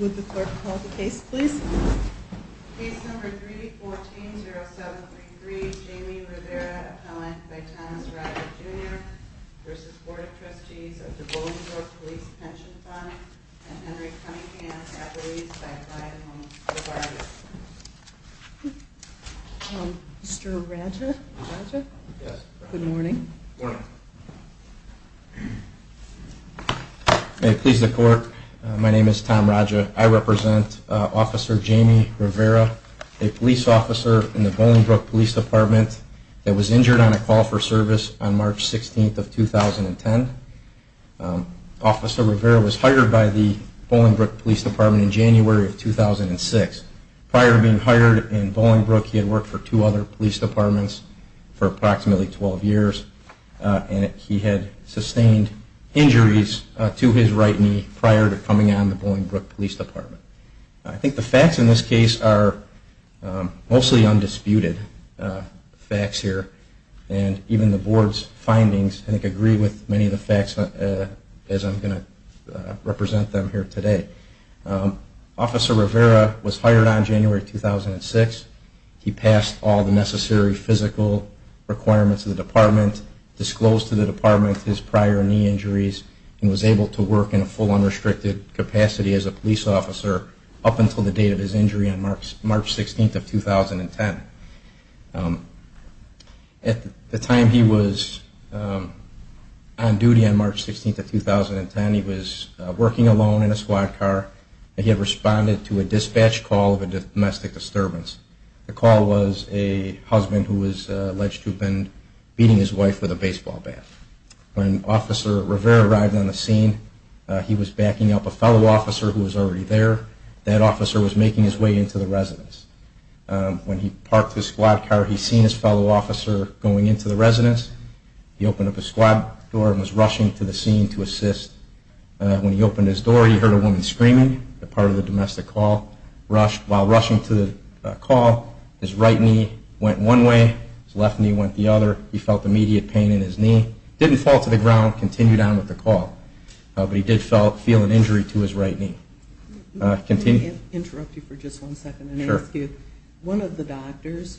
Would the clerk call the case, please? Case number 314-0733, Jamie Rivera, appellant by Thomas Roger, Jr. v. Board of Trustees of the Bolingbrook Police Pension Fund, and Henry Cunningham, appellate by Brian Lombardi. Mr. Roger? Good morning. Good morning. May it please the Court, my name is Tom Roger. I represent Officer Jamie Rivera, a police officer in the Bolingbrook Police Department that was injured on a call for service on March 16th of 2010. Officer Rivera was hired by the Bolingbrook Police Department in January of 2006. Prior to being hired in Bolingbrook, he had worked for two other police departments for approximately 12 years, and he had sustained injuries to his right knee prior to coming on the Bolingbrook Police Department. I think the facts in this case are mostly undisputed facts here, and even the Board's findings I think agree with many of the facts as I'm going to represent them here today. Officer Rivera was hired on January 2006. He passed all the necessary physical requirements of the department, disclosed to the department his prior knee injuries, and was able to work in a full unrestricted capacity as a police officer up until the date of his injury on March 16th of 2010. At the time he was on duty on March 16th of 2010, he was working alone in a squad car. He had responded to a dispatch call of a domestic disturbance. The call was a husband who was alleged to have been beating his wife with a baseball bat. When Officer Rivera arrived on the scene, he was backing up a fellow officer who was already there. That officer was making his way into the residence. When he parked his squad car, he seen his fellow officer going into the residence. He opened up his squad door and was rushing to the scene to assist. When he opened his door, he heard a woman screaming as part of the domestic call. While rushing to the call, his right knee went one way, his left knee went the other. He felt immediate pain in his knee. He didn't fall to the ground and continued on with the call, but he did feel an injury to his right knee. Can I interrupt you for just one second and ask you, one of the doctors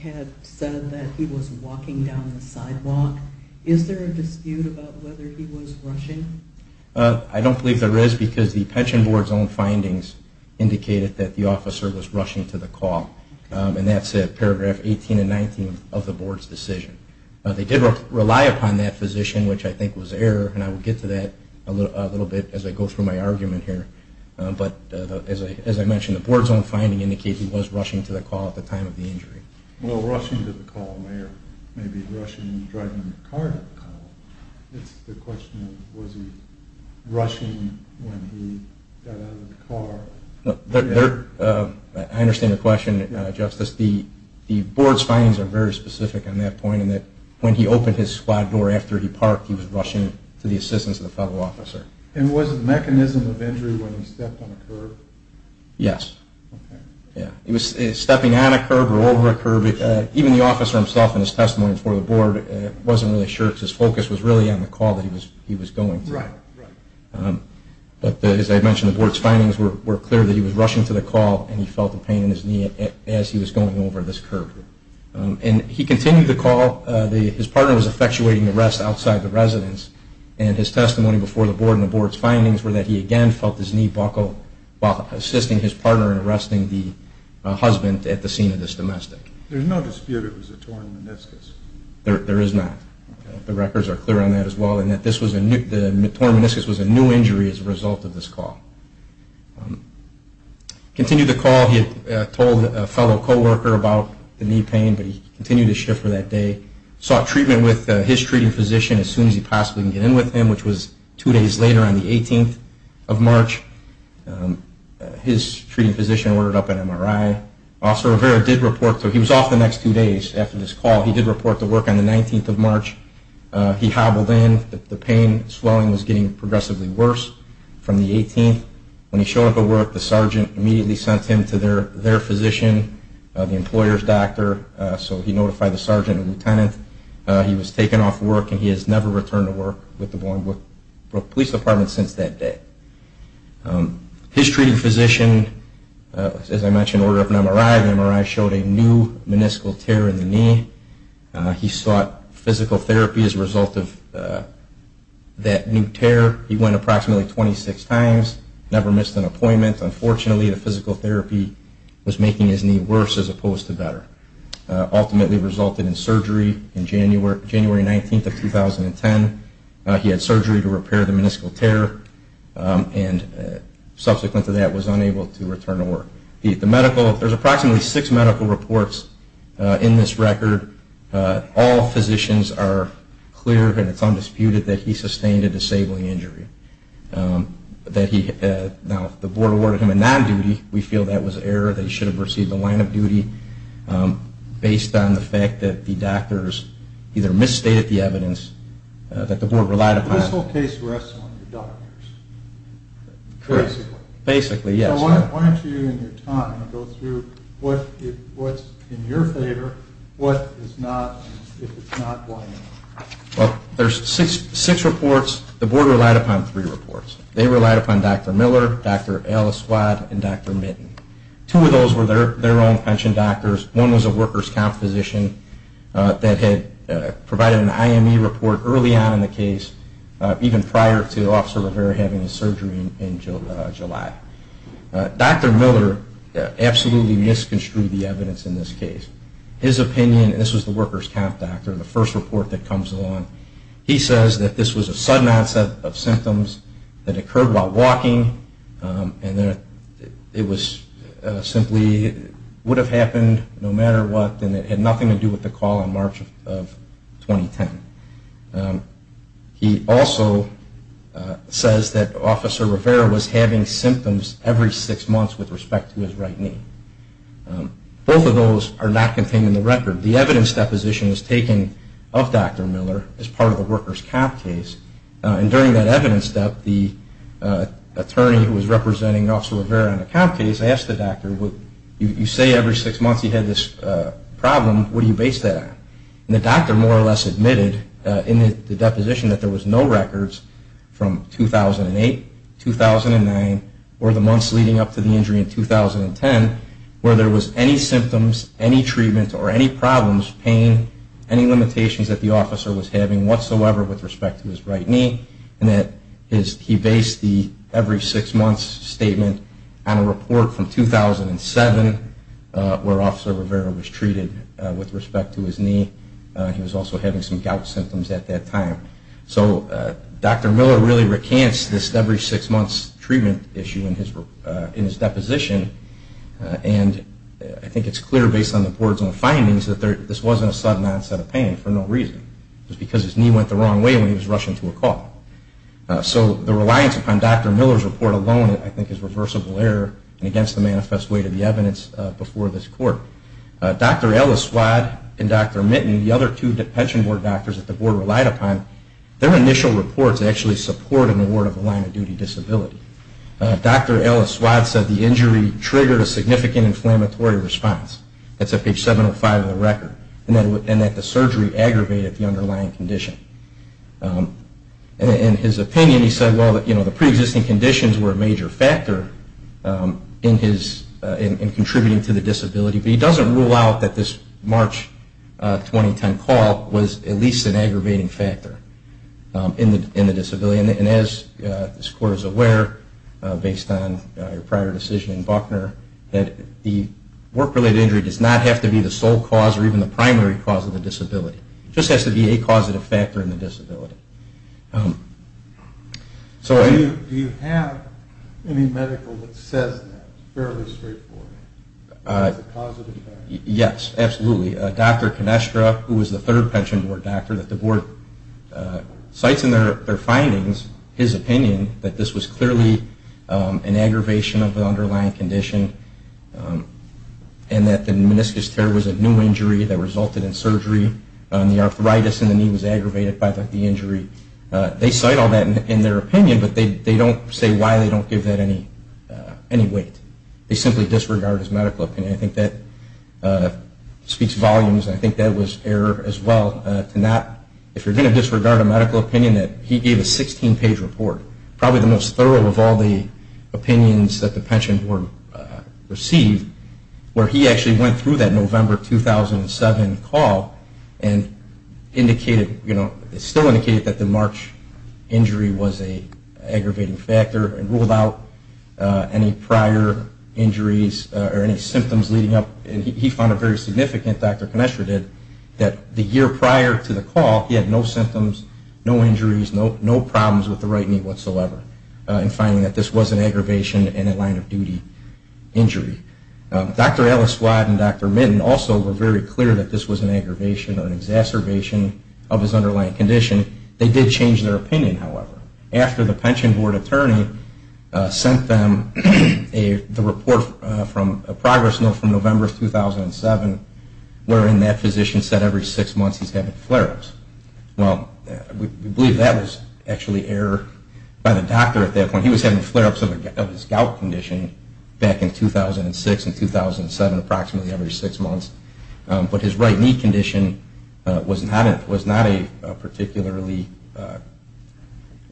had said that he was walking down the sidewalk. Is there a dispute about whether he was rushing? I don't believe there is, because the pension board's own findings indicated that the officer was rushing to the call. And that's paragraph 18 and 19 of the board's decision. They did rely upon that physician, which I think was error, and I will get to that a little bit as I go through my argument here. But as I mentioned, the board's own finding indicates he was rushing to the call at the time of the injury. Well, rushing to the call may be rushing and driving the car to the call. It's the question of was he rushing when he got out of the car. I understand the question, Justice. The board's findings are very specific on that point in that when he opened his squad door after he parked, he was rushing to the assistance of the federal officer. And was it a mechanism of injury when he stepped on a curb? Yes. He was stepping on a curb or over a curb. Even the officer himself in his testimony before the board wasn't really sure if his focus was really on the call that he was going through. But as I mentioned, the board's findings were clear that he was rushing to the call and he felt the pain in his knee as he was going over this curb. And he continued the call. His partner was effectuating the rest outside the residence, and his testimony before the board and the board's findings were that he again felt his knee buckle while assisting his partner in arresting the husband at the scene of this domestic. There's no dispute it was a torn meniscus. There is not. The records are clear on that as well, and that the torn meniscus was a new injury as a result of this call. Continued the call. He had told a fellow coworker about the knee pain, but he continued his shift for that day. Sought treatment with his treating physician as soon as he possibly could get in with him, which was two days later on the 18th of March. His treating physician ordered up an MRI. Officer Rivera did report, though he was off the next two days after this call, he did report to work on the 19th of March. He hobbled in. The pain, swelling was getting progressively worse from the 18th. When he showed up at work, the sergeant immediately sent him to their physician, the employer's doctor, so he notified the sergeant and lieutenant. He was taken off work and he has never returned to work with the Baltimore Police Department since that day. His treating physician, as I mentioned, ordered up an MRI. The MRI showed a new meniscal tear in the knee. He sought physical therapy as a result of that new tear. He went approximately 26 times, never missed an appointment. Unfortunately, the physical therapy was making his knee worse as opposed to better. Ultimately resulted in surgery on January 19th of 2010. He had surgery to repair the meniscal tear and subsequent to that was unable to return to work. There's approximately six medical reports in this record. All physicians are clear and it's undisputed that he sustained a disabling injury. Now, if the board awarded him a non-duty, we feel that was error, that he should have received a line of duty based on the fact that the doctors either misstated the evidence that the board relied upon. This whole case rests on the doctors, basically. Basically, yes. Why don't you, in your time, go through what's in your favor, what is not, and if it's not, why not? Well, there's six reports. The board relied upon three reports. They relied upon Dr. Miller, Dr. Al-Aswad, and Dr. Mitton. Two of those were their own pension doctors. One was a workers' comp physician that had provided an IME report early on in the case, even prior to Officer Rivera having his surgery in July. Dr. Miller absolutely misconstrued the evidence in this case. His opinion, and this was the workers' comp doctor, the first report that comes along, he says that this was a sudden onset of symptoms that occurred while walking and that it was simply would have happened no matter what and it had nothing to do with the call in March of 2010. He also says that Officer Rivera was having symptoms every six months with respect to his right knee. Both of those are not contained in the record. The evidence deposition was taken of Dr. Miller as part of the workers' comp case. And during that evidence step, the attorney who was representing Officer Rivera on the comp case asked the doctor, you say every six months you had this problem, what do you base that on? And the doctor more or less admitted in the deposition that there was no records from 2008, 2009, or the months leading up to the injury in 2010 where there was any symptoms, any treatment, or any problems, pain, any limitations that the officer was having whatsoever with respect to his right knee. And that he based the every six months statement on a report from 2007 where Officer Rivera was treated with respect to his knee. He was also having some gout symptoms at that time. So Dr. Miller really recants this every six months treatment issue in his deposition. And I think it's clear based on the board's own findings that this wasn't a sudden onset of pain for no reason. It was because his knee went the wrong way when he was rushing to a call. So the reliance upon Dr. Miller's report alone I think is reversible error and against the manifest weight of the evidence before this court. Dr. Ellis-Swad and Dr. Mitton, the other two depension board doctors that the board relied upon, their initial reports actually support an award of the line of duty disability. Dr. Ellis-Swad said the injury triggered a significant inflammatory response. That's at page 705 of the record. And that the surgery aggravated the underlying condition. In his opinion, he said, well, the pre-existing conditions were a major factor in contributing to the disability. But he doesn't rule out that this March 2010 call was at least an aggravating factor in the disability. And as this court is aware, based on your prior decision in Buckner, that the work-related injury does not have to be the sole cause or even the primary cause of the disability. It just has to be a causative factor in the disability. Do you have any medical that says that? It's fairly straightforward. Yes, absolutely. Dr. Canestra, who was the third pension board doctor, that the board cites in their findings, his opinion, that this was clearly an aggravation of the underlying condition. And that the meniscus tear was a new injury that resulted in surgery. And the arthritis in the knee was aggravated by the injury. They cite all that in their opinion, but they don't say why they don't give that any weight. They simply disregard his medical opinion. And I think that speaks volumes. I think that was error as well. If you're going to disregard a medical opinion, that he gave a 16-page report, probably the most thorough of all the opinions that the pension board received, where he actually went through that November 2007 call and indicated, still indicated that the March injury was an aggravating factor and ruled out any prior injuries or any symptoms leading up. And he found it very significant, Dr. Canestra did, that the year prior to the call, he had no symptoms, no injuries, no problems with the right knee whatsoever, in finding that this was an aggravation and a line-of-duty injury. Dr. Elliswad and Dr. Mitten also were very clear that this was an aggravation or an exacerbation of his underlying condition. They did change their opinion, however. After the pension board attorney sent them the report from a progress note from November 2007, wherein that physician said every six months he's having flare-ups. Well, we believe that was actually error by the doctor at that point. He was having flare-ups of his gout condition back in 2006 and 2007, approximately every six months. But his right knee condition was not a particularly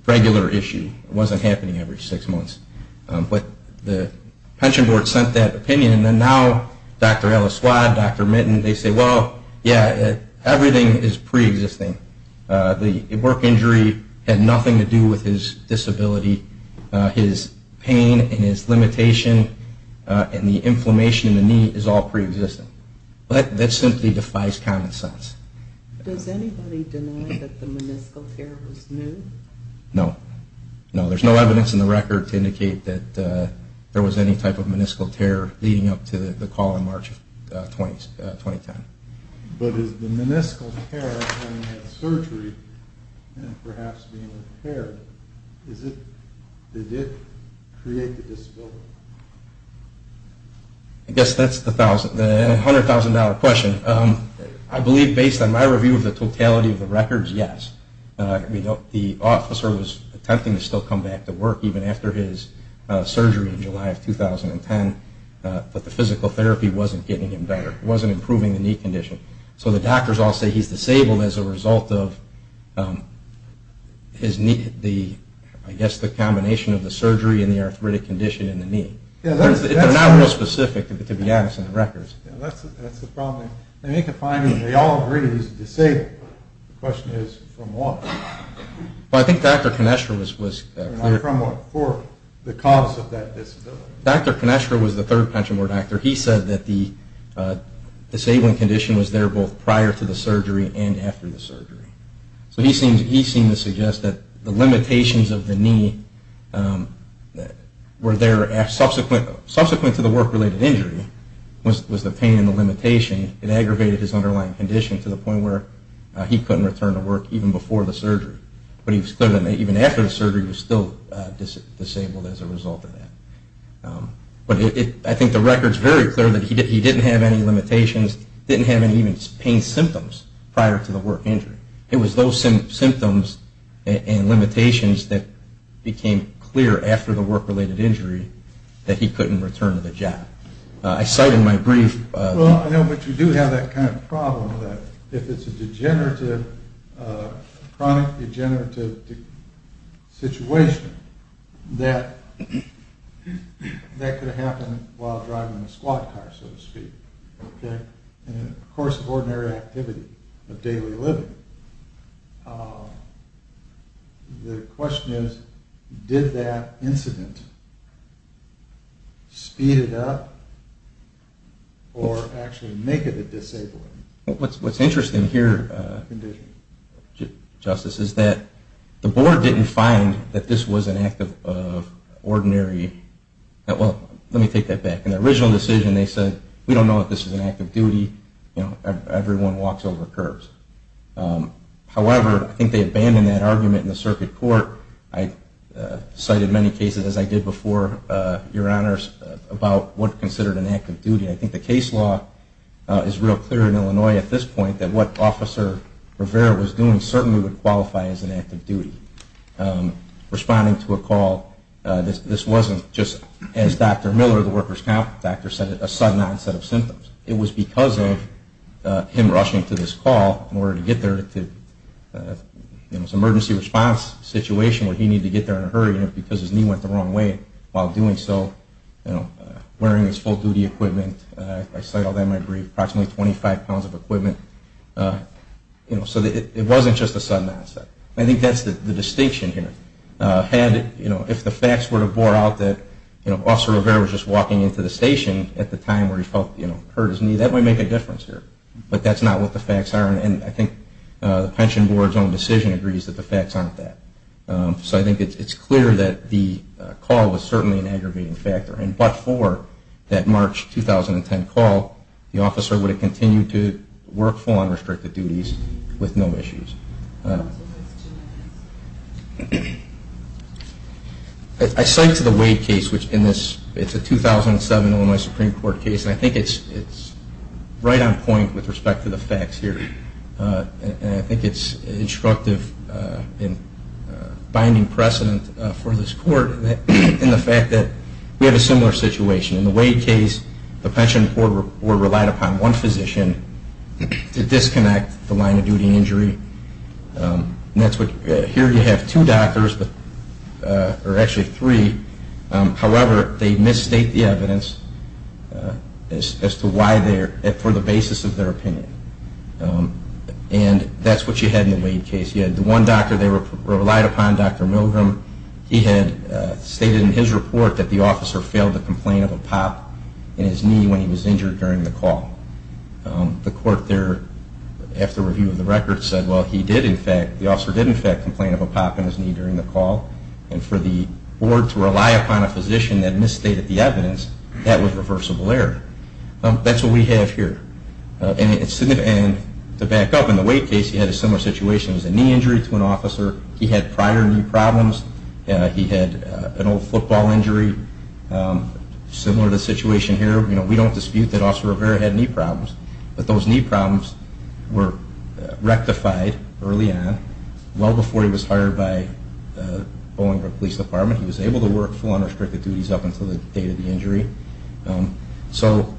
regular issue. It wasn't happening every six months. But the pension board sent that opinion, and now Dr. Elliswad, Dr. Mitten, they say, well, yeah, everything is preexisting. The work injury had nothing to do with his disability. His pain and his limitation and the inflammation in the knee is all preexisting. That simply defies common sense. Does anybody deny that the meniscal tear was new? No. No, there's no evidence in the record to indicate that there was any type of meniscal tear leading up to the call in March 2010. But is the meniscal tear when he had surgery and perhaps being repaired, did it create the disability? I guess that's the $100,000 question. I believe based on my review of the totality of the records, yes. The officer was attempting to still come back to work even after his surgery in July of 2010, but the physical therapy wasn't getting him better. It wasn't improving the knee condition. So the doctors all say he's disabled as a result of, I guess, the combination of the surgery and the arthritic condition in the knee. They're not real specific, to be honest, in the records. That's the problem. They make a finding. They all agree he's disabled. The question is, from what? Well, I think Dr. Kineshra was clear. From what? For the cause of that disability. Dr. Kineshra was the third pension board doctor. He said that the disabling condition was there both prior to the surgery and after the surgery. So he seemed to suggest that the limitations of the knee were there. Subsequent to the work-related injury was the pain and the limitation. It aggravated his underlying condition to the point where he couldn't return to work even before the surgery. But he was clear that even after the surgery he was still disabled as a result of that. But I think the record is very clear that he didn't have any limitations, didn't have any pain symptoms prior to the work injury. It was those symptoms and limitations that became clear after the work-related injury that he couldn't return to the job. I cite in my brief. Well, I know, but you do have that kind of problem that if it's a degenerative, chronic degenerative situation, that that could happen while driving a squad car, so to speak, in the course of ordinary activity, of daily living. The question is, did that incident speed it up or actually make it a disabling condition? I think, Justice, is that the board didn't find that this was an act of ordinary. Well, let me take that back. In the original decision they said, we don't know if this is an act of duty. Everyone walks over curbs. However, I think they abandoned that argument in the circuit court. I cited many cases, as I did before, Your Honors, about what's considered an act of duty. I think the case law is real clear in Illinois at this point that what Officer Rivera was doing certainly would qualify as an act of duty. Responding to a call, this wasn't just, as Dr. Miller, the workers' counselor, said, a sudden onset of symptoms. It was because of him rushing to this call in order to get there. It was an emergency response situation where he needed to get there in a hurry because his knee went the wrong way while doing so, wearing his full-duty equipment. I cite all that in my brief. Approximately 25 pounds of equipment. So it wasn't just a sudden onset. I think that's the distinction here. If the facts were to bore out that Officer Rivera was just walking into the station at the time where he felt hurt his knee, that might make a difference here. But that's not what the facts are, and I think the Pension Board's own decision agrees that the facts aren't that. So I think it's clear that the call was certainly an aggravating factor. And but for that March 2010 call, the officer would have continued to work full-on restricted duties with no issues. I cite to the Wade case, which in this, it's a 2007 Illinois Supreme Court case, and I think it's right on point with respect to the facts here. And I think it's instructive in finding precedent for this court in the fact that we have a similar situation. In the Wade case, the Pension Board relied upon one physician to disconnect the line of duty injury. Here you have two doctors, or actually three. However, they misstate the evidence for the basis of their opinion. And that's what you had in the Wade case. You had the one doctor they relied upon, Dr. Milgram. He had stated in his report that the officer failed to complain of a pop in his knee when he was injured during the call. The court there, after review of the record, said, well, he did in fact, the officer did in fact complain of a pop in his knee during the call. And for the board to rely upon a physician that misstated the evidence, that was reversible error. That's what we have here. And to back up, in the Wade case, he had a similar situation. It was a knee injury to an officer. He had prior knee problems. He had an old football injury, similar to the situation here. We don't dispute that Officer Rivera had knee problems. But those knee problems were rectified early on, well before he was hired by the Bollingbrook Police Department. He was able to work full unrestricted duties up until the date of the injury. So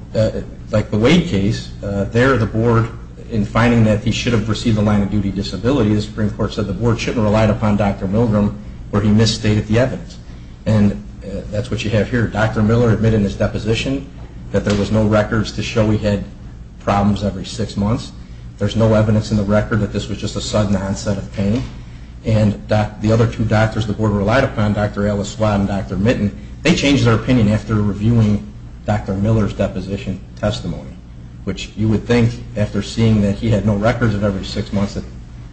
like the Wade case, there the board, in finding that he should have received a line of duty disability, the Supreme Court said the board shouldn't have relied upon Dr. Milgram where he misstated the evidence. And that's what you have here. Dr. Miller admitted in his deposition that there was no records to show he had problems every six months. There's no evidence in the record that this was just a sudden onset of pain. And the other two doctors the board relied upon, Dr. Ellis Swatt and Dr. Mitten, they changed their opinion after reviewing Dr. Miller's deposition testimony, which you would think after seeing that he had no records of every six months that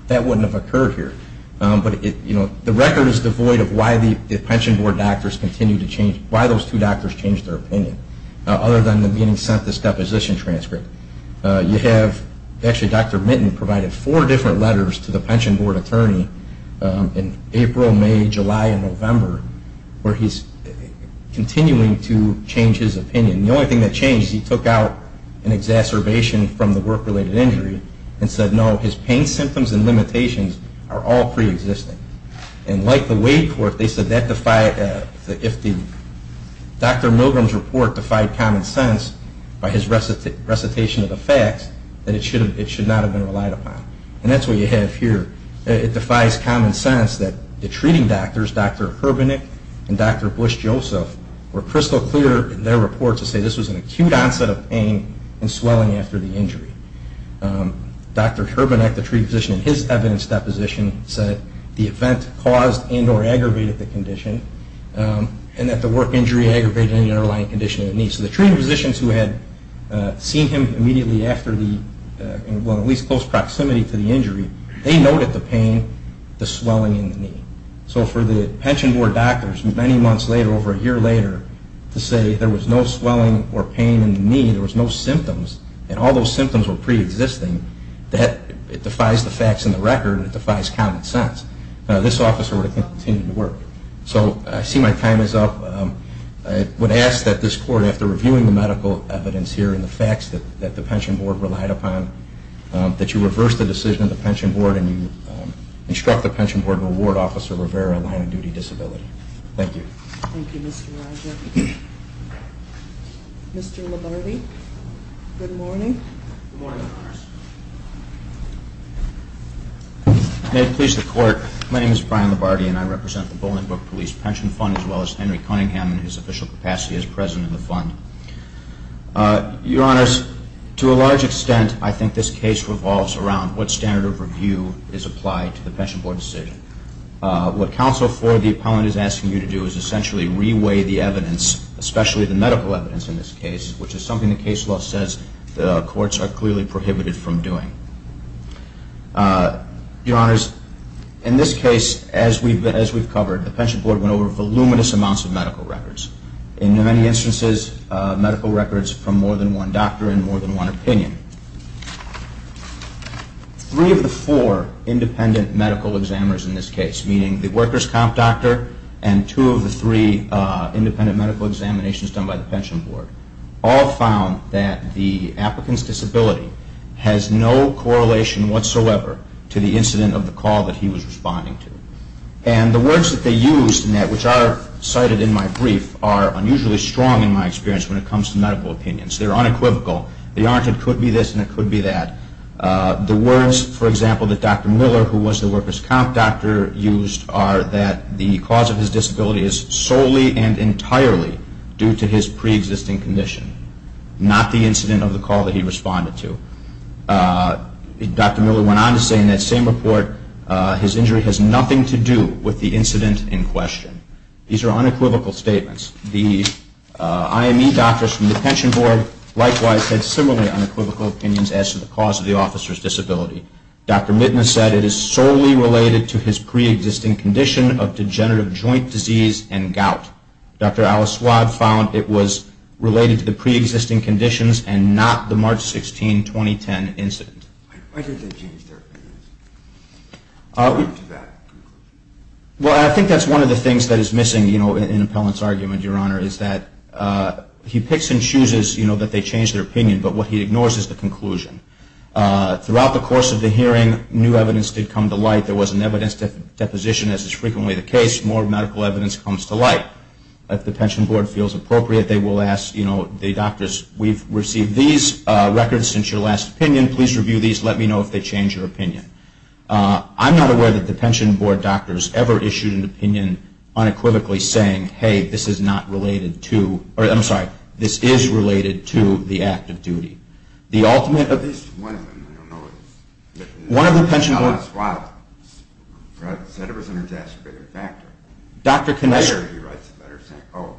that wouldn't have occurred here. But, you know, the record is devoid of why the pension board doctors continued to change, why those two doctors changed their opinion, other than them being sent this deposition transcript. You have, actually Dr. Mitten provided four different letters to the pension board attorney in April, May, July and November where he's continuing to change his opinion. The only thing that changed is he took out an exacerbation from the work-related injury and said, no, his pain symptoms and limitations are all pre-existing. And like the Wade court, they said that if Dr. Milgram's report defied common sense by his recitation of the facts, that it should not have been relied upon. And that's what you have here. It defies common sense that the treating doctors, Dr. Herbenick and Dr. Bush-Joseph, were crystal clear in their report to say this was an acute onset of pain and swelling after the injury. Dr. Herbenick, the treating physician, in his evidence deposition said the event caused and or aggravated the condition and that the work injury aggravated any underlying condition of the knee. So the treating physicians who had seen him immediately after the, well, at least close proximity to the injury, they noted the pain, the swelling in the knee. So for the pension board doctors, many months later, over a year later, to say there was no swelling or pain in the knee, there was no symptoms, and all those symptoms were pre-existing, that it defies the facts in the record, and it defies common sense. This officer would have continued to work. So I see my time is up. I would ask that this court, after reviewing the medical evidence here and the facts that the pension board relied upon, that you reverse the decision of the pension board and instruct the pension board to award Officer Rivera a line-of-duty disability. Thank you. Thank you, Mr. Rodger. Mr. Labarde, good morning. Good morning, Your Honors. May it please the Court, my name is Brian Labarde, and I represent the Bolingbroke Police Pension Fund, as well as Henry Cunningham, and his official capacity as president of the fund. Your Honors, to a large extent, I think this case revolves around what standard of review is applied to the pension board decision. What counsel for the appellant is asking you to do is essentially re-weigh the evidence especially the medical evidence in this case, which is something the case law says the courts are clearly prohibited from doing. Your Honors, in this case, as we've covered, the pension board went over voluminous amounts of medical records. In many instances, medical records from more than one doctor and more than one opinion. Three of the four independent medical examiners in this case, meaning the workers' comp doctor and two of the three independent medical examinations done by the pension board, all found that the applicant's disability has no correlation whatsoever to the incident of the call that he was responding to. And the words that they used in that, which are cited in my brief, are unusually strong in my experience when it comes to medical opinions. They're unequivocal. They aren't, it could be this and it could be that. The words, for example, that Dr. Miller, who was the workers' comp doctor, used, are that the cause of his disability is solely and entirely due to his pre-existing condition, not the incident of the call that he responded to. Dr. Miller went on to say in that same report, his injury has nothing to do with the incident in question. These are unequivocal statements. The IME doctors from the pension board, likewise, had similarly unequivocal opinions as to the cause of the officer's disability. Dr. Mitna said it is solely related to his pre-existing condition of degenerative joint disease and gout. Dr. Al-Aswad found it was related to the pre-existing conditions and not the March 16, 2010 incident. Why did they change their opinions? Well, I think that's one of the things that is missing in Appellant's argument, Your Honor, is that he picks and chooses that they change their opinion, but what he ignores is the conclusion. Throughout the course of the hearing, new evidence did come to light. There was an evidence deposition, as is frequently the case. More medical evidence comes to light. If the pension board feels appropriate, they will ask the doctors, we've received these records since your last opinion. Please review these. Let me know if they change your opinion. I'm not aware that the pension board doctors ever issued an opinion unequivocally saying, hey, this is not related to, or I'm sorry, this is related to the act of duty. The ultimate of this one, I don't know, is Al-Aswad said it was an exacerbated factor. Later he writes a letter saying, oh,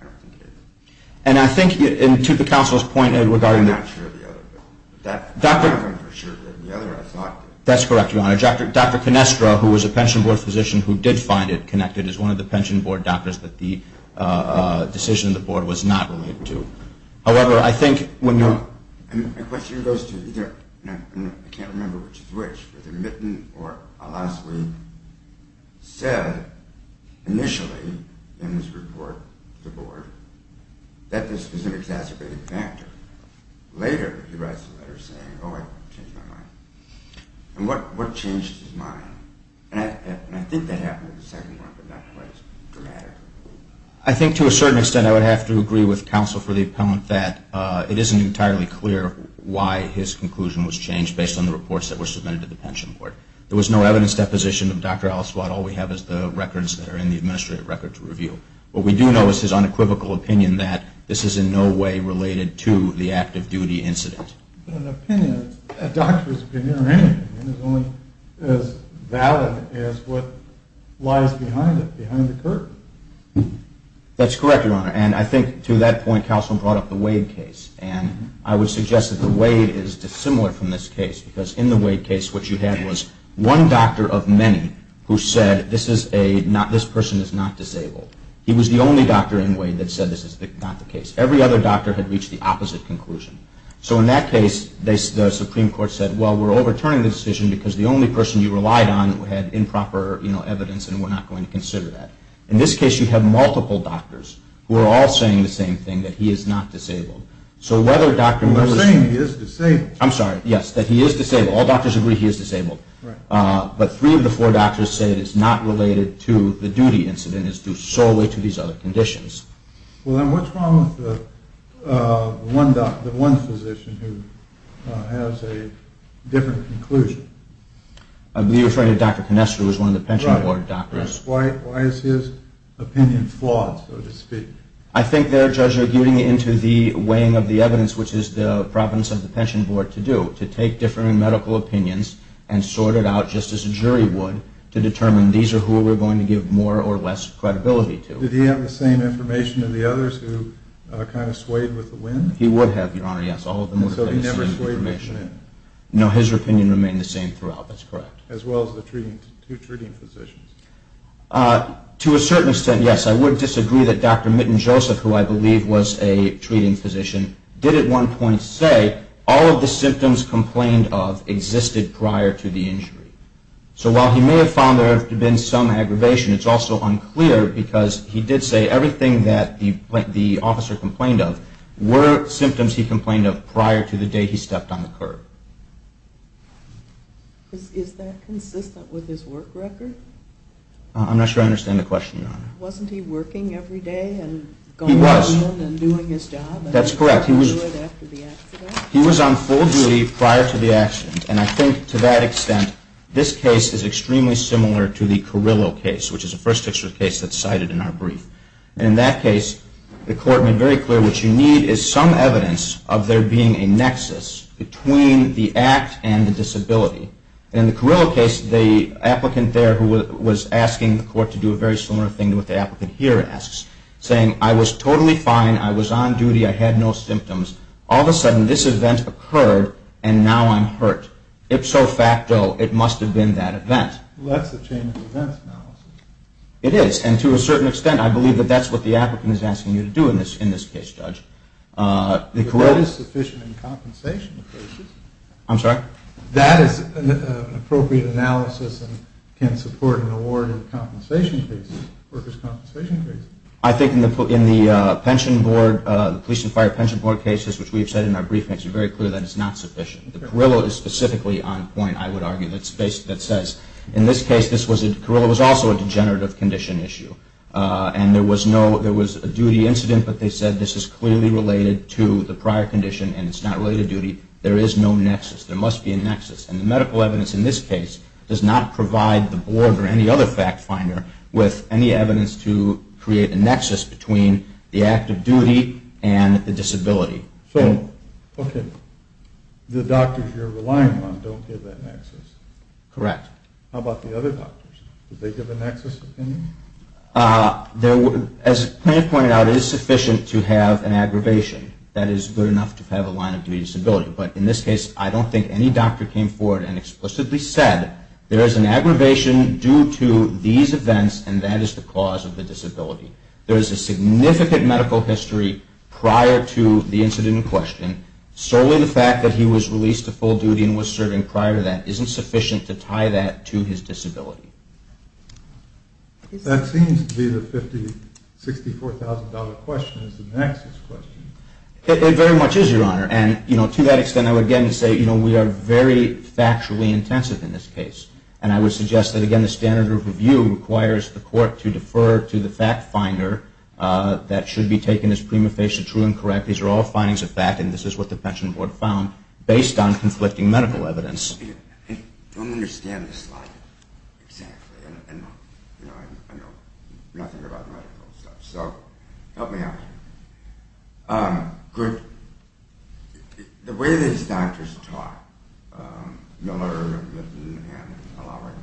I don't think it is. And I think, and to the counsel's point regarding that. I'm not sure of the other one, but that one for sure did. The other I thought did. That's correct, Your Honor. Dr. Canestra, who was a pension board physician who did find it connected, is one of the pension board doctors that the decision of the board was not related to. However, I think when you're... My question goes to either, and I can't remember which is which, whether Mitten or Al-Aswad said initially in his report to the board that this was an exacerbated factor. Later he writes a letter saying, oh, I changed my mind. And what changed his mind? And I think that happened in the second one, but not quite as dramatic. I think to a certain extent I would have to agree with counsel for the appellant that it isn't entirely clear why his conclusion was changed based on the reports that were submitted to the pension board. There was no evidence deposition of Dr. Al-Aswad. All we have is the records that are in the administrative record to review. What we do know is his unequivocal opinion that this is in no way related to the active duty incident. But an opinion, a doctor's opinion or anything is only as valid as what lies behind it, behind the curtain. That's correct, Your Honor. And I think to that point, counsel brought up the Wade case. And I would suggest that the Wade is dissimilar from this case because in the Wade case, what you had was one doctor of many who said this person is not disabled. He was the only doctor in Wade that said this is not the case. Every other doctor had reached the opposite conclusion. So in that case, the Supreme Court said, well, we're overturning the decision because the only person you relied on had improper evidence and we're not going to consider that. In this case, you have multiple doctors who are all saying the same thing, that he is not disabled. So whether a doctor... They're saying he is disabled. I'm sorry. Yes, that he is disabled. All doctors agree he is disabled. Right. But three of the four doctors say that it's not related to the duty incident. It's due solely to these other conditions. Well, then what's wrong with the one doctor, the one physician who has a different conclusion? Right. Why is his opinion flawed, so to speak? I think their judge is getting into the weighing of the evidence, which is the province of the pension board to do, to take different medical opinions and sort it out just as a jury would to determine these are who we're going to give more or less credibility to. Did he have the same information as the others who kind of swayed with the wind? He would have, Your Honor, yes. So he never swayed with the wind? No, his opinion remained the same throughout. That's correct. As well as the two treating physicians. To a certain extent, yes, I would disagree that Dr. Mitten-Joseph, who I believe was a treating physician, did at one point say all of the symptoms complained of existed prior to the injury. So while he may have found there to have been some aggravation, it's also unclear because he did say everything that the officer complained of were symptoms he complained of prior to the day he stepped on the curb. Is that consistent with his work record? I'm not sure I understand the question, Your Honor. Wasn't he working every day and going in and doing his job? That's correct. He was on full duty prior to the accident. And I think to that extent, this case is extremely similar to the Carrillo case, which is the first case that's cited in our brief. And in that case, the court made very clear what you need is some evidence of there being a nexus between the two cases, between the act and the disability. In the Carrillo case, the applicant there was asking the court to do a very similar thing to what the applicant here asks, saying I was totally fine, I was on duty, I had no symptoms. All of a sudden, this event occurred and now I'm hurt. Ipso facto, it must have been that event. Well, that's a chain of events analysis. It is. And to a certain extent, I believe that that's what the applicant is asking you to do in this case, Judge. The Carrillo is sufficient in compensation cases. I'm sorry? That is an appropriate analysis and can support an award in compensation cases, workers' compensation cases. I think in the police and fire pension board cases, which we've said in our brief, makes it very clear that it's not sufficient. The Carrillo is specifically on point, I would argue, that says in this case, Carrillo was also a degenerative condition issue. And there was a duty incident, but they said this is clearly related to the prior condition and it's not related to duty. There is no nexus. There must be a nexus. And the medical evidence in this case does not provide the board or any other fact finder with any evidence to create a nexus between the act of duty and the disability. So, okay, the doctors you're relying on don't give that nexus? Correct. How about the other doctors? Did they give a nexus opinion? As Clint pointed out, it is sufficient to have an aggravation. That is good enough to have a line of duty disability. But in this case, I don't think any doctor came forward and explicitly said there is an aggravation due to these events and that is the cause of the disability. There is a significant medical history prior to the incident in question. Solely the fact that he was released to full duty and was serving prior to that isn't sufficient to tie that to his disability. That seems to be the $64,000 question is the nexus question. It very much is, Your Honor. And, you know, to that extent, I would again say, you know, we are very factually intensive in this case. And I would suggest that, again, the standard of review requires the court to defer to the fact finder that should be taken as prima facie true and correct. These are all findings of fact and this is what the pension board found based on conflicting medical evidence. I don't understand this slide exactly. I know nothing about medical stuff. So help me out here. The way these doctors talk, Miller, Mitten, and Alaric,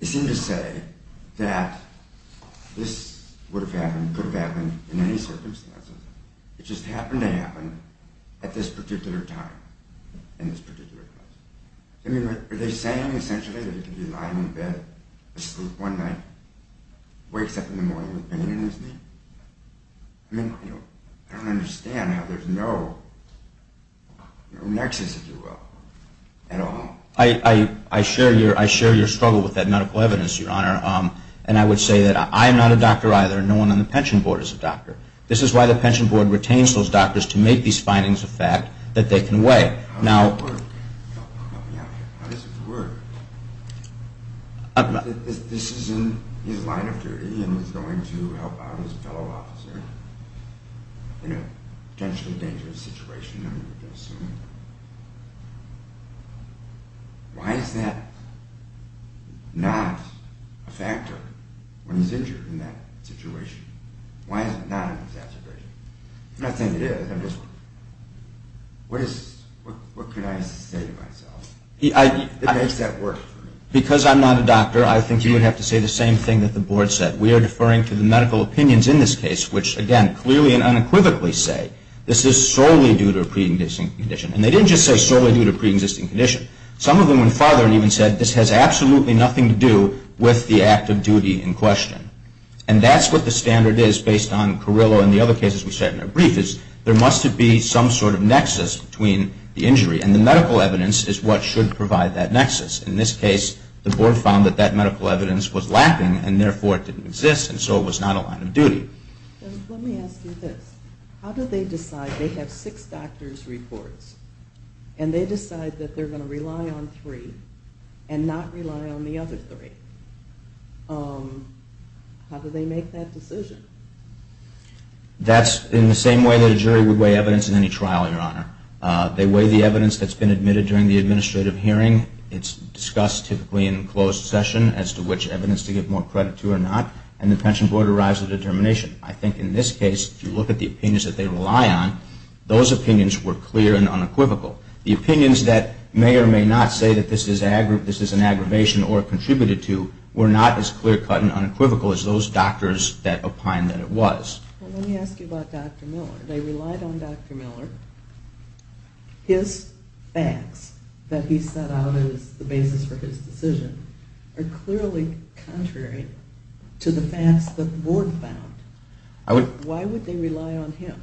they seem to say that this would have happened, could have happened in any circumstances. It just happened to happen at this particular time in this particular place. I mean, are they saying essentially that he could be lying in bed asleep one night, wakes up in the morning with pain in his knee? I mean, I don't understand how there's no nexus, if you will, at all. I share your struggle with that medical evidence, Your Honor. And I would say that I am not a doctor either. No one on the pension board is a doctor. This is why the pension board retains those doctors to make these findings of fact that they can weigh. How does it work? Help me out here. How does it work? This is in his line of duty and he's going to help out his fellow officer in a potentially dangerous situation, I'm going to assume. Why is that not a factor when he's injured in that situation? Why is it not an exacerbation? I think it is. What can I say to myself? It makes that work for me. Because I'm not a doctor, I think you would have to say the same thing that the board said. We are deferring to the medical opinions in this case, which, again, clearly and unequivocally say this is solely due to a pre-existing condition. And they didn't just say solely due to a pre-existing condition. Some of them went farther and even said this has absolutely nothing to do with the act of duty in question. And that's what the standard is based on Carrillo and the other cases we said in our brief is there must be some sort of nexus between the injury. And the medical evidence is what should provide that nexus. In this case, the board found that that medical evidence was lacking and therefore it didn't exist and so it was not a line of duty. Let me ask you this. How do they decide? They have six doctor's reports and they decide that they're going to rely on three and not rely on the other three. How do they make that decision? That's in the same way that a jury would weigh evidence in any trial, Your Honor. They weigh the evidence that's been admitted during the administrative hearing. It's discussed typically in closed session as to which evidence to give more credit to or not. And the pension board arrives at a determination. I think in this case, if you look at the opinions that they rely on, those opinions were clear and unequivocal. The opinions that may or may not say that this is an aggravation or contributed to were not as clear cut and unequivocal as those doctors that opined that it was. Let me ask you about Dr. Miller. They relied on Dr. Miller. His facts that he set out as the basis for his decision are clearly contrary to the facts that the board found. Why would they rely on him?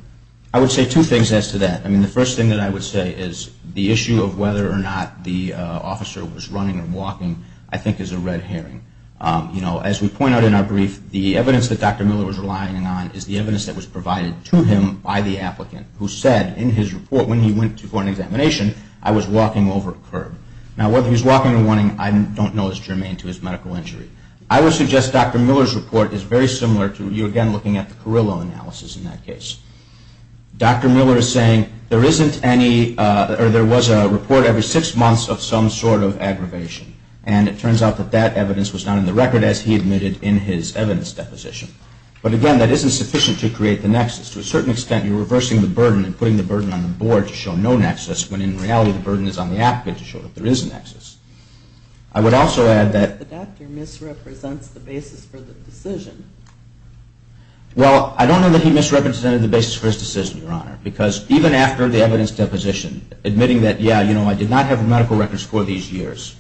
I would say two things as to that. The first thing that I would say is the issue of whether or not the officer was running or walking I think is a red herring. As we point out in our brief, the evidence that Dr. Miller was relying on is the evidence that was provided to him by the applicant who said in his report when he went for an examination, I was walking over a curb. Now whether he was walking or running, I don't know is germane to his medical injury. I would suggest Dr. Miller's report is very similar to you again looking at the Carrillo analysis in that case. Dr. Miller is saying there was a report every six months of some sort of aggravation. And it turns out that that evidence was not in the record as he admitted in his evidence deposition. To a certain extent, you're reversing the burden and putting the burden on the board to show no nexus when in reality the burden is on the applicant to show that there is a nexus. I would also add that the doctor misrepresents the basis for the decision. Well, I don't know that he misrepresented the basis for his decision, Your Honor, because even after the evidence deposition, admitting that, yeah, you know, I did not have medical records for these years,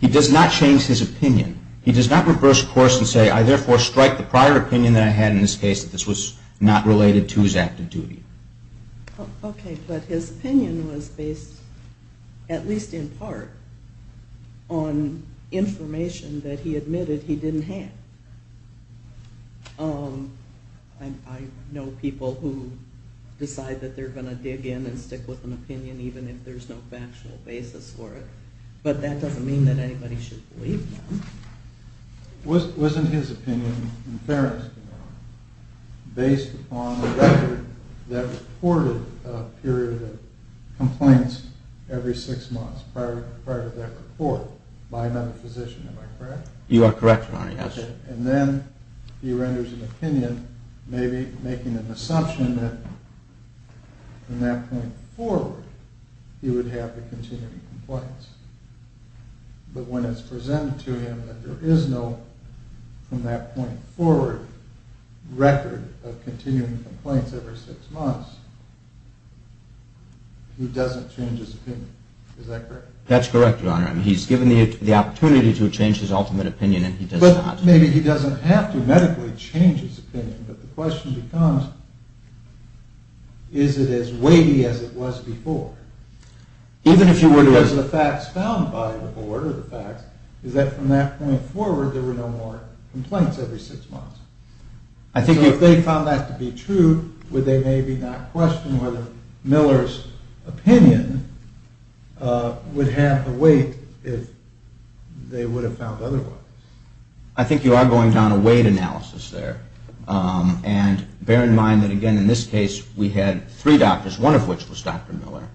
he does not change his opinion. He does not reverse course and say, I therefore strike the prior opinion that I had in this case that this was not related to his active duty. Okay, but his opinion was based, at least in part, on information that he admitted he didn't have. I know people who decide that they're going to dig in and stick with an opinion even if there's no factual basis for it. But that doesn't mean that anybody should believe them. Wasn't his opinion in fairness, Your Honor, based upon the record that reported a period of complaints every six months prior to that report by another physician, am I correct? You are correct, Your Honor. Okay, and then he renders an opinion, maybe making an assumption that from that point forward he would have the continuing complaints. But when it's presented to him that there is no, from that point forward, record of continuing complaints every six months, he doesn't change his opinion. Is that correct? That's correct, Your Honor. He's given the opportunity to change his ultimate opinion and he does not. But maybe he doesn't have to medically change his opinion, but the question becomes, is it as weighty as it was before? Because the facts found by the board are the facts, is that from that point forward there were no more complaints every six months. So if they found that to be true, would they maybe not question whether Miller's opinion would have the weight if they would have found otherwise? I think you are going down a weight analysis there. And bear in mind that again in this case we had three doctors, one of which was Dr. Miller,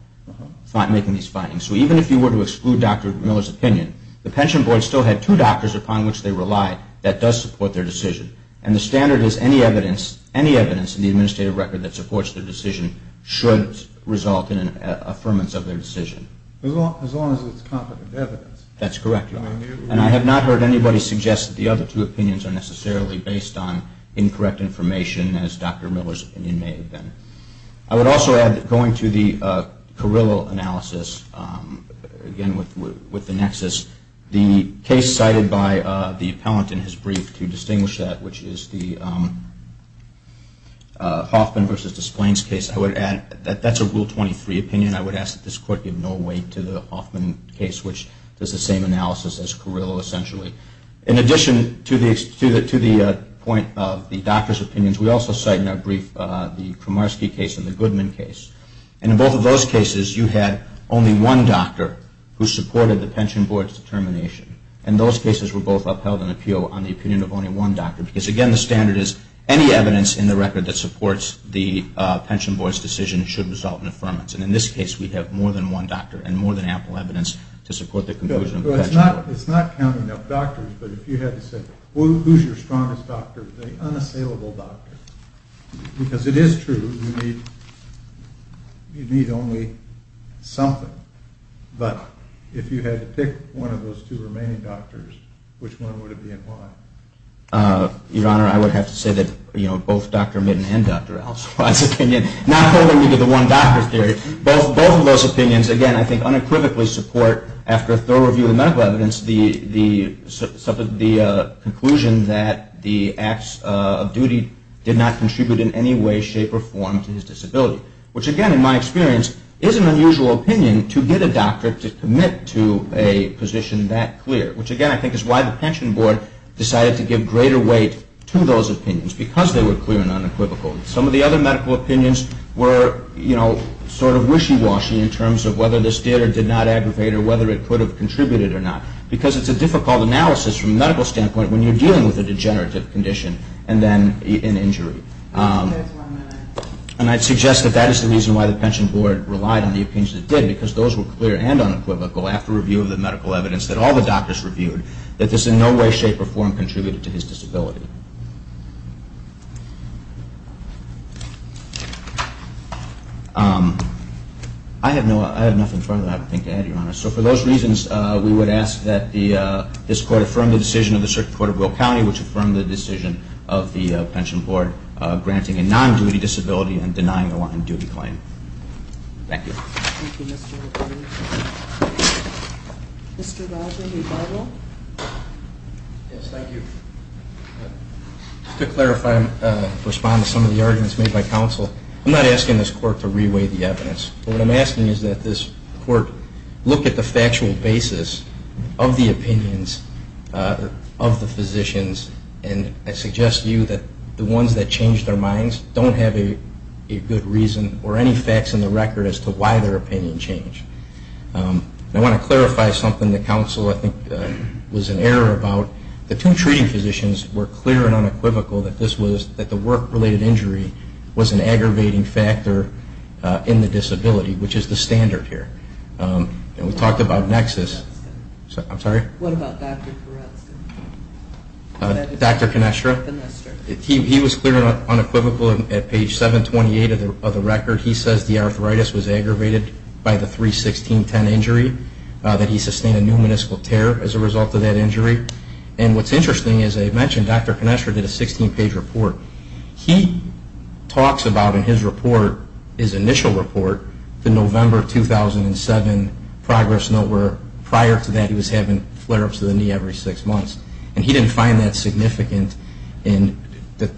making these findings. So even if you were to exclude Dr. Miller's opinion, the pension board still had two doctors upon which they relied that does support their decision. And the standard is any evidence in the administrative record that supports their decision should result in an affirmance of their decision. As long as it's competent evidence. That's correct, Your Honor. And I have not heard anybody suggest that the other two opinions are necessarily based on incorrect information as Dr. Miller's opinion may have been. I would also add that going to the Carrillo analysis, again with the nexus, the case cited by the appellant in his brief to distinguish that, which is the Hoffman v. Desplaines case, I would add that that's a Rule 23 opinion. I would ask that this Court give no weight to the Hoffman case, which does the same analysis as Carrillo essentially. In addition to the point of the doctor's opinions, we also cite in our brief the Kramarski case and the Goodman case. And in both of those cases you had only one doctor who supported the pension board's determination. And those cases were both upheld in appeal on the opinion of only one doctor. Because again the standard is any evidence in the record that supports the pension board's decision should result in affirmance. And in this case we have more than one doctor and more than ample evidence to support the conclusion of the pension board. It's not counting up doctors, but if you had to say who's your strongest doctor, the unassailable doctor. Because it is true you need only something. But if you had to pick one of those two remaining doctors, which one would it be and why? Your Honor, I would have to say that both Dr. Midden and Dr. Ellsworth's opinion, not holding to the one doctor theory. Both of those opinions again I think unequivocally support, after a thorough review of the medical evidence, the conclusion that the acts of duty did not contribute in any way, shape, or form to his disability. Which again in my experience is an unusual opinion to get a doctor to commit to a position that clear. Which again I think is why the pension board decided to give greater weight to those opinions, because they were clear and unequivocal. Some of the other medical opinions were sort of wishy-washy in terms of whether this did or did not aggravate or whether it could have contributed or not. Because it's a difficult analysis from a medical standpoint when you're dealing with a degenerative condition and then an injury. And I'd suggest that that is the reason why the pension board relied on the opinions it did, because those were clear and unequivocal after review of the medical evidence that all the doctors reviewed, that this in no way, shape, or form contributed to his disability. I have nothing further I think to add, Your Honor. So for those reasons, we would ask that this Court affirm the decision of the Circuit Court of Will County, which affirmed the decision of the pension board granting a non-duty disability and denying a non-duty claim. Thank you. Thank you, Mr. McClain. Mr. Rogers, rebuttal? Yes, thank you. Just to clarify and respond to some of the arguments made by counsel, I'm not asking this Court to re-weigh the evidence, but what I'm asking is that this Court look at the factual basis of the opinions of the physicians, and I suggest to you that the ones that change their minds don't have a good reason or any facts in the record as to why they changed their minds. I want to clarify something that counsel, I think, was in error about. The two treating physicians were clear and unequivocal that the work-related injury was an aggravating factor in the disability, which is the standard here. And we talked about nexus. I'm sorry? What about Dr. Conestra? Dr. Conestra? He was clear and unequivocal at page 728 of the record. He says the arthritis was aggravated by the 3-16-10 injury, that he sustained a new meniscal tear as a result of that injury. And what's interesting, as I mentioned, Dr. Conestra did a 16-page report. He talks about in his report, his initial report, the November 2007 progress note where prior to that he was having flare-ups of the knee every six months. And he didn't find that significant in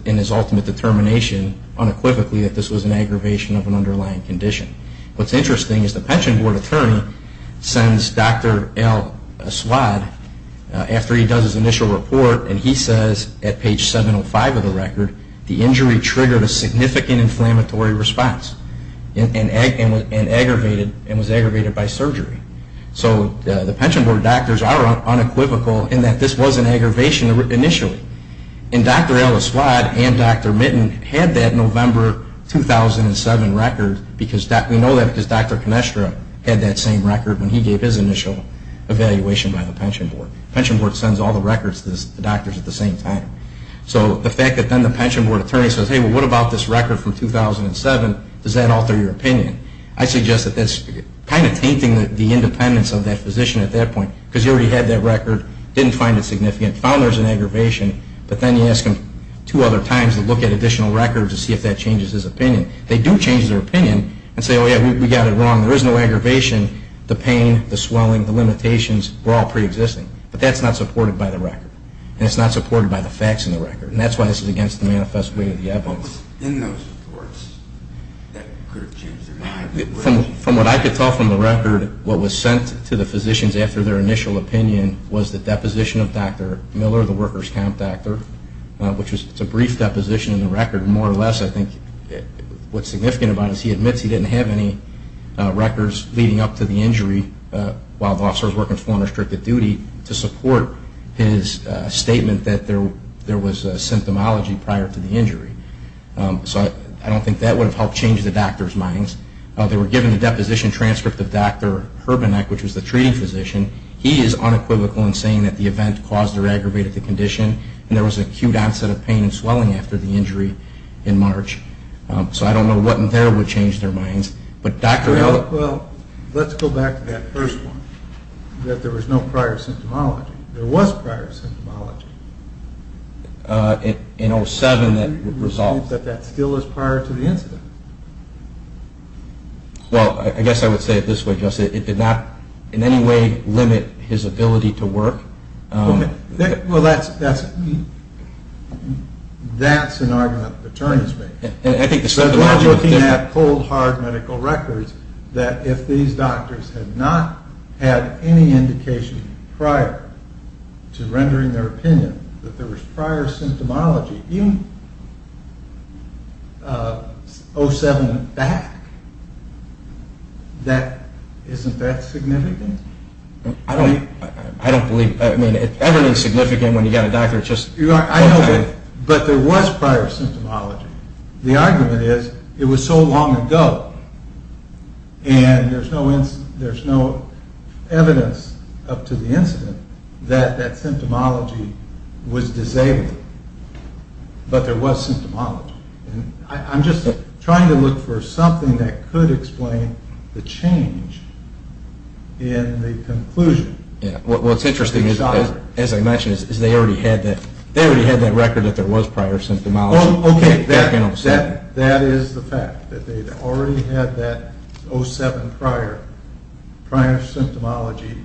his ultimate determination unequivocally that this was an aggravation of an underlying condition. What's interesting is the pension board attorney sends Dr. L. Aswad after he does his initial report, and he says at page 705 of the record, the injury triggered a significant inflammatory response and was aggravated by surgery. So the pension board doctors are unequivocal in that this was an aggravation initially. And Dr. L. Aswad and Dr. Mitten had that November 2007 record because we know that Dr. Conestra had that same record when he gave his initial evaluation by the pension board. The pension board sends all the records to the doctors at the same time. So the fact that then the pension board attorney says, hey, what about this record from 2007, does that alter your opinion? I suggest that that's kind of tainting the independence of that physician at that point because he already had that record, didn't find it significant, found there was an aggravation, but then you ask him two other times to look at additional records to see if that changes his opinion. They do change their opinion and say, oh, yeah, we got it wrong. There is no aggravation. The pain, the swelling, the limitations were all preexisting. But that's not supported by the record. And it's not supported by the facts in the record. And that's why this is against the manifest way of the evidence. In those reports, that could have changed their mind. From what I could tell from the record, what was sent to the physicians after their initial opinion was the deposition of Dr. Miller, the workers' camp doctor, which is a brief deposition in the record. More or less, I think what's significant about it is he admits he didn't have any records leading up to the injury while the officer was working to support his statement that there was a symptomology prior to the injury. So I don't think that would have helped change the doctor's minds. They were given the deposition transcript of Dr. Herbenek, which was the treating physician. He is unequivocal in saying that the event caused or aggravated the condition. And there was acute onset of pain and swelling after the injury in March. So I don't know what in there would change their minds. Well, let's go back to that first one, that there was no prior symptomology. There was prior symptomology. In 07 that would resolve. But that still is prior to the incident. Well, I guess I would say it this way, it did not in any way limit his ability to work. Well, that's an argument the attorneys make. They have cold, hard medical records that if these doctors had not had any indication prior to rendering their opinion that there was prior symptomology, even 07 and back, isn't that significant? I don't believe that. I mean, everything is significant when you've got a doctor. But there was prior symptomology. The argument is it was so long ago and there's no evidence up to the incident that that symptomology was disabled. But there was symptomology. I'm just trying to look for something that could explain the change in the conclusion. Well, it's interesting, as I mentioned, is they already had that record that there was prior symptomology. Okay, that is the fact, that they'd already had that 07 prior, prior symptomology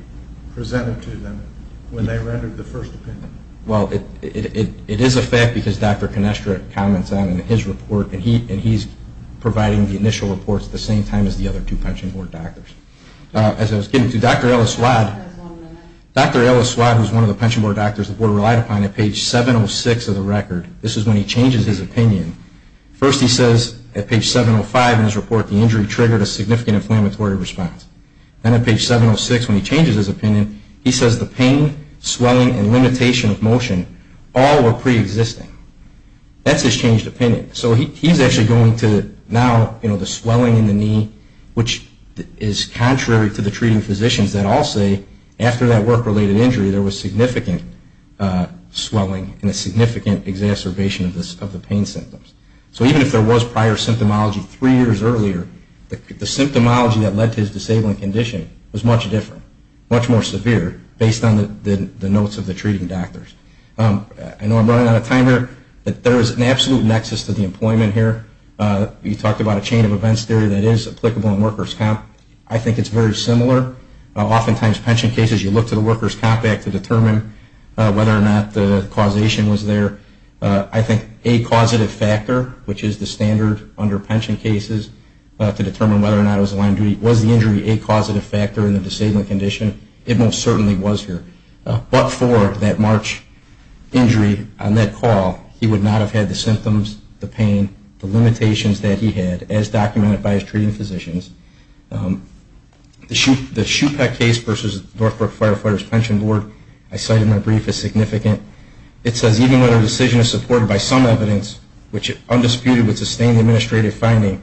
presented to them when they rendered the first opinion. Well, it is a fact because Dr. Conestra comments on it in his report, and he's providing the initial reports at the same time as the other two pension board doctors. As I was getting to, Dr. Ellis-Swad, who's one of the pension board doctors the board relied upon at page 706 of the record, this is when he changes his opinion. First he says at page 705 in his report, the injury triggered a significant inflammatory response. Then at page 706 when he changes his opinion, he says the pain, swelling, and limitation of motion all were preexisting. That's his changed opinion. So he's actually going to now, you know, the swelling in the knee, which is contrary to the treating physicians that all say after that work-related injury there was significant swelling and a significant exacerbation of the pain symptoms. So even if there was prior symptomology three years earlier, the symptomology that led to his disabling condition was much different, much more severe based on the notes of the treating doctors. I know I'm running out of time here, but there is an absolute nexus to the employment here. You talked about a chain of events theory that is applicable in workers' comp. I think it's very similar. Oftentimes pension cases you look to the workers' comp act to determine whether or not the causation was there. I think a causative factor, which is the standard under pension cases to determine whether or not it was line of duty, was the injury a causative factor in the disabling condition? It most certainly was here. But for that March injury on that call, he would not have had the symptoms, the pain, the limitations that he had, as documented by his treating physicians. The Shupak case versus Northbrook Firefighters Pension Board, I cited in my brief, is significant. It says even when a decision is supported by some evidence, which is undisputed with sustained administrative finding,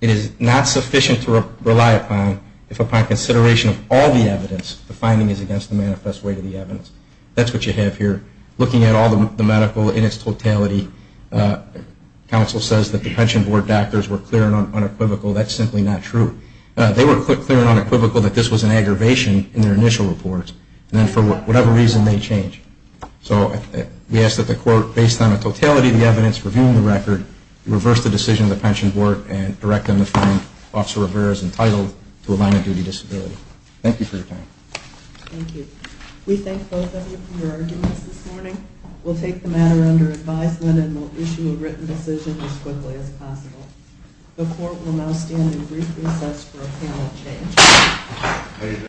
it is not sufficient to rely upon if upon consideration of all the evidence, the finding is against the manifest weight of the evidence. That's what you have here. Looking at all the medical in its totality, counsel says that the pension board doctors were clear and unequivocal. That's simply not true. They were clear and unequivocal that this was an aggravation in their initial reports. And then for whatever reason, they changed. So we ask that the court, based on the totality of the evidence, reviewing the record, reverse the decision of the pension board and direct them to find Officer Rivera as entitled to a line of duty disability. Thank you for your time. Thank you. We thank both of you for your arguments this morning. We'll take the matter under advisement and we'll issue a written decision as quickly as possible. The court will now stand in brief recess for a panel change.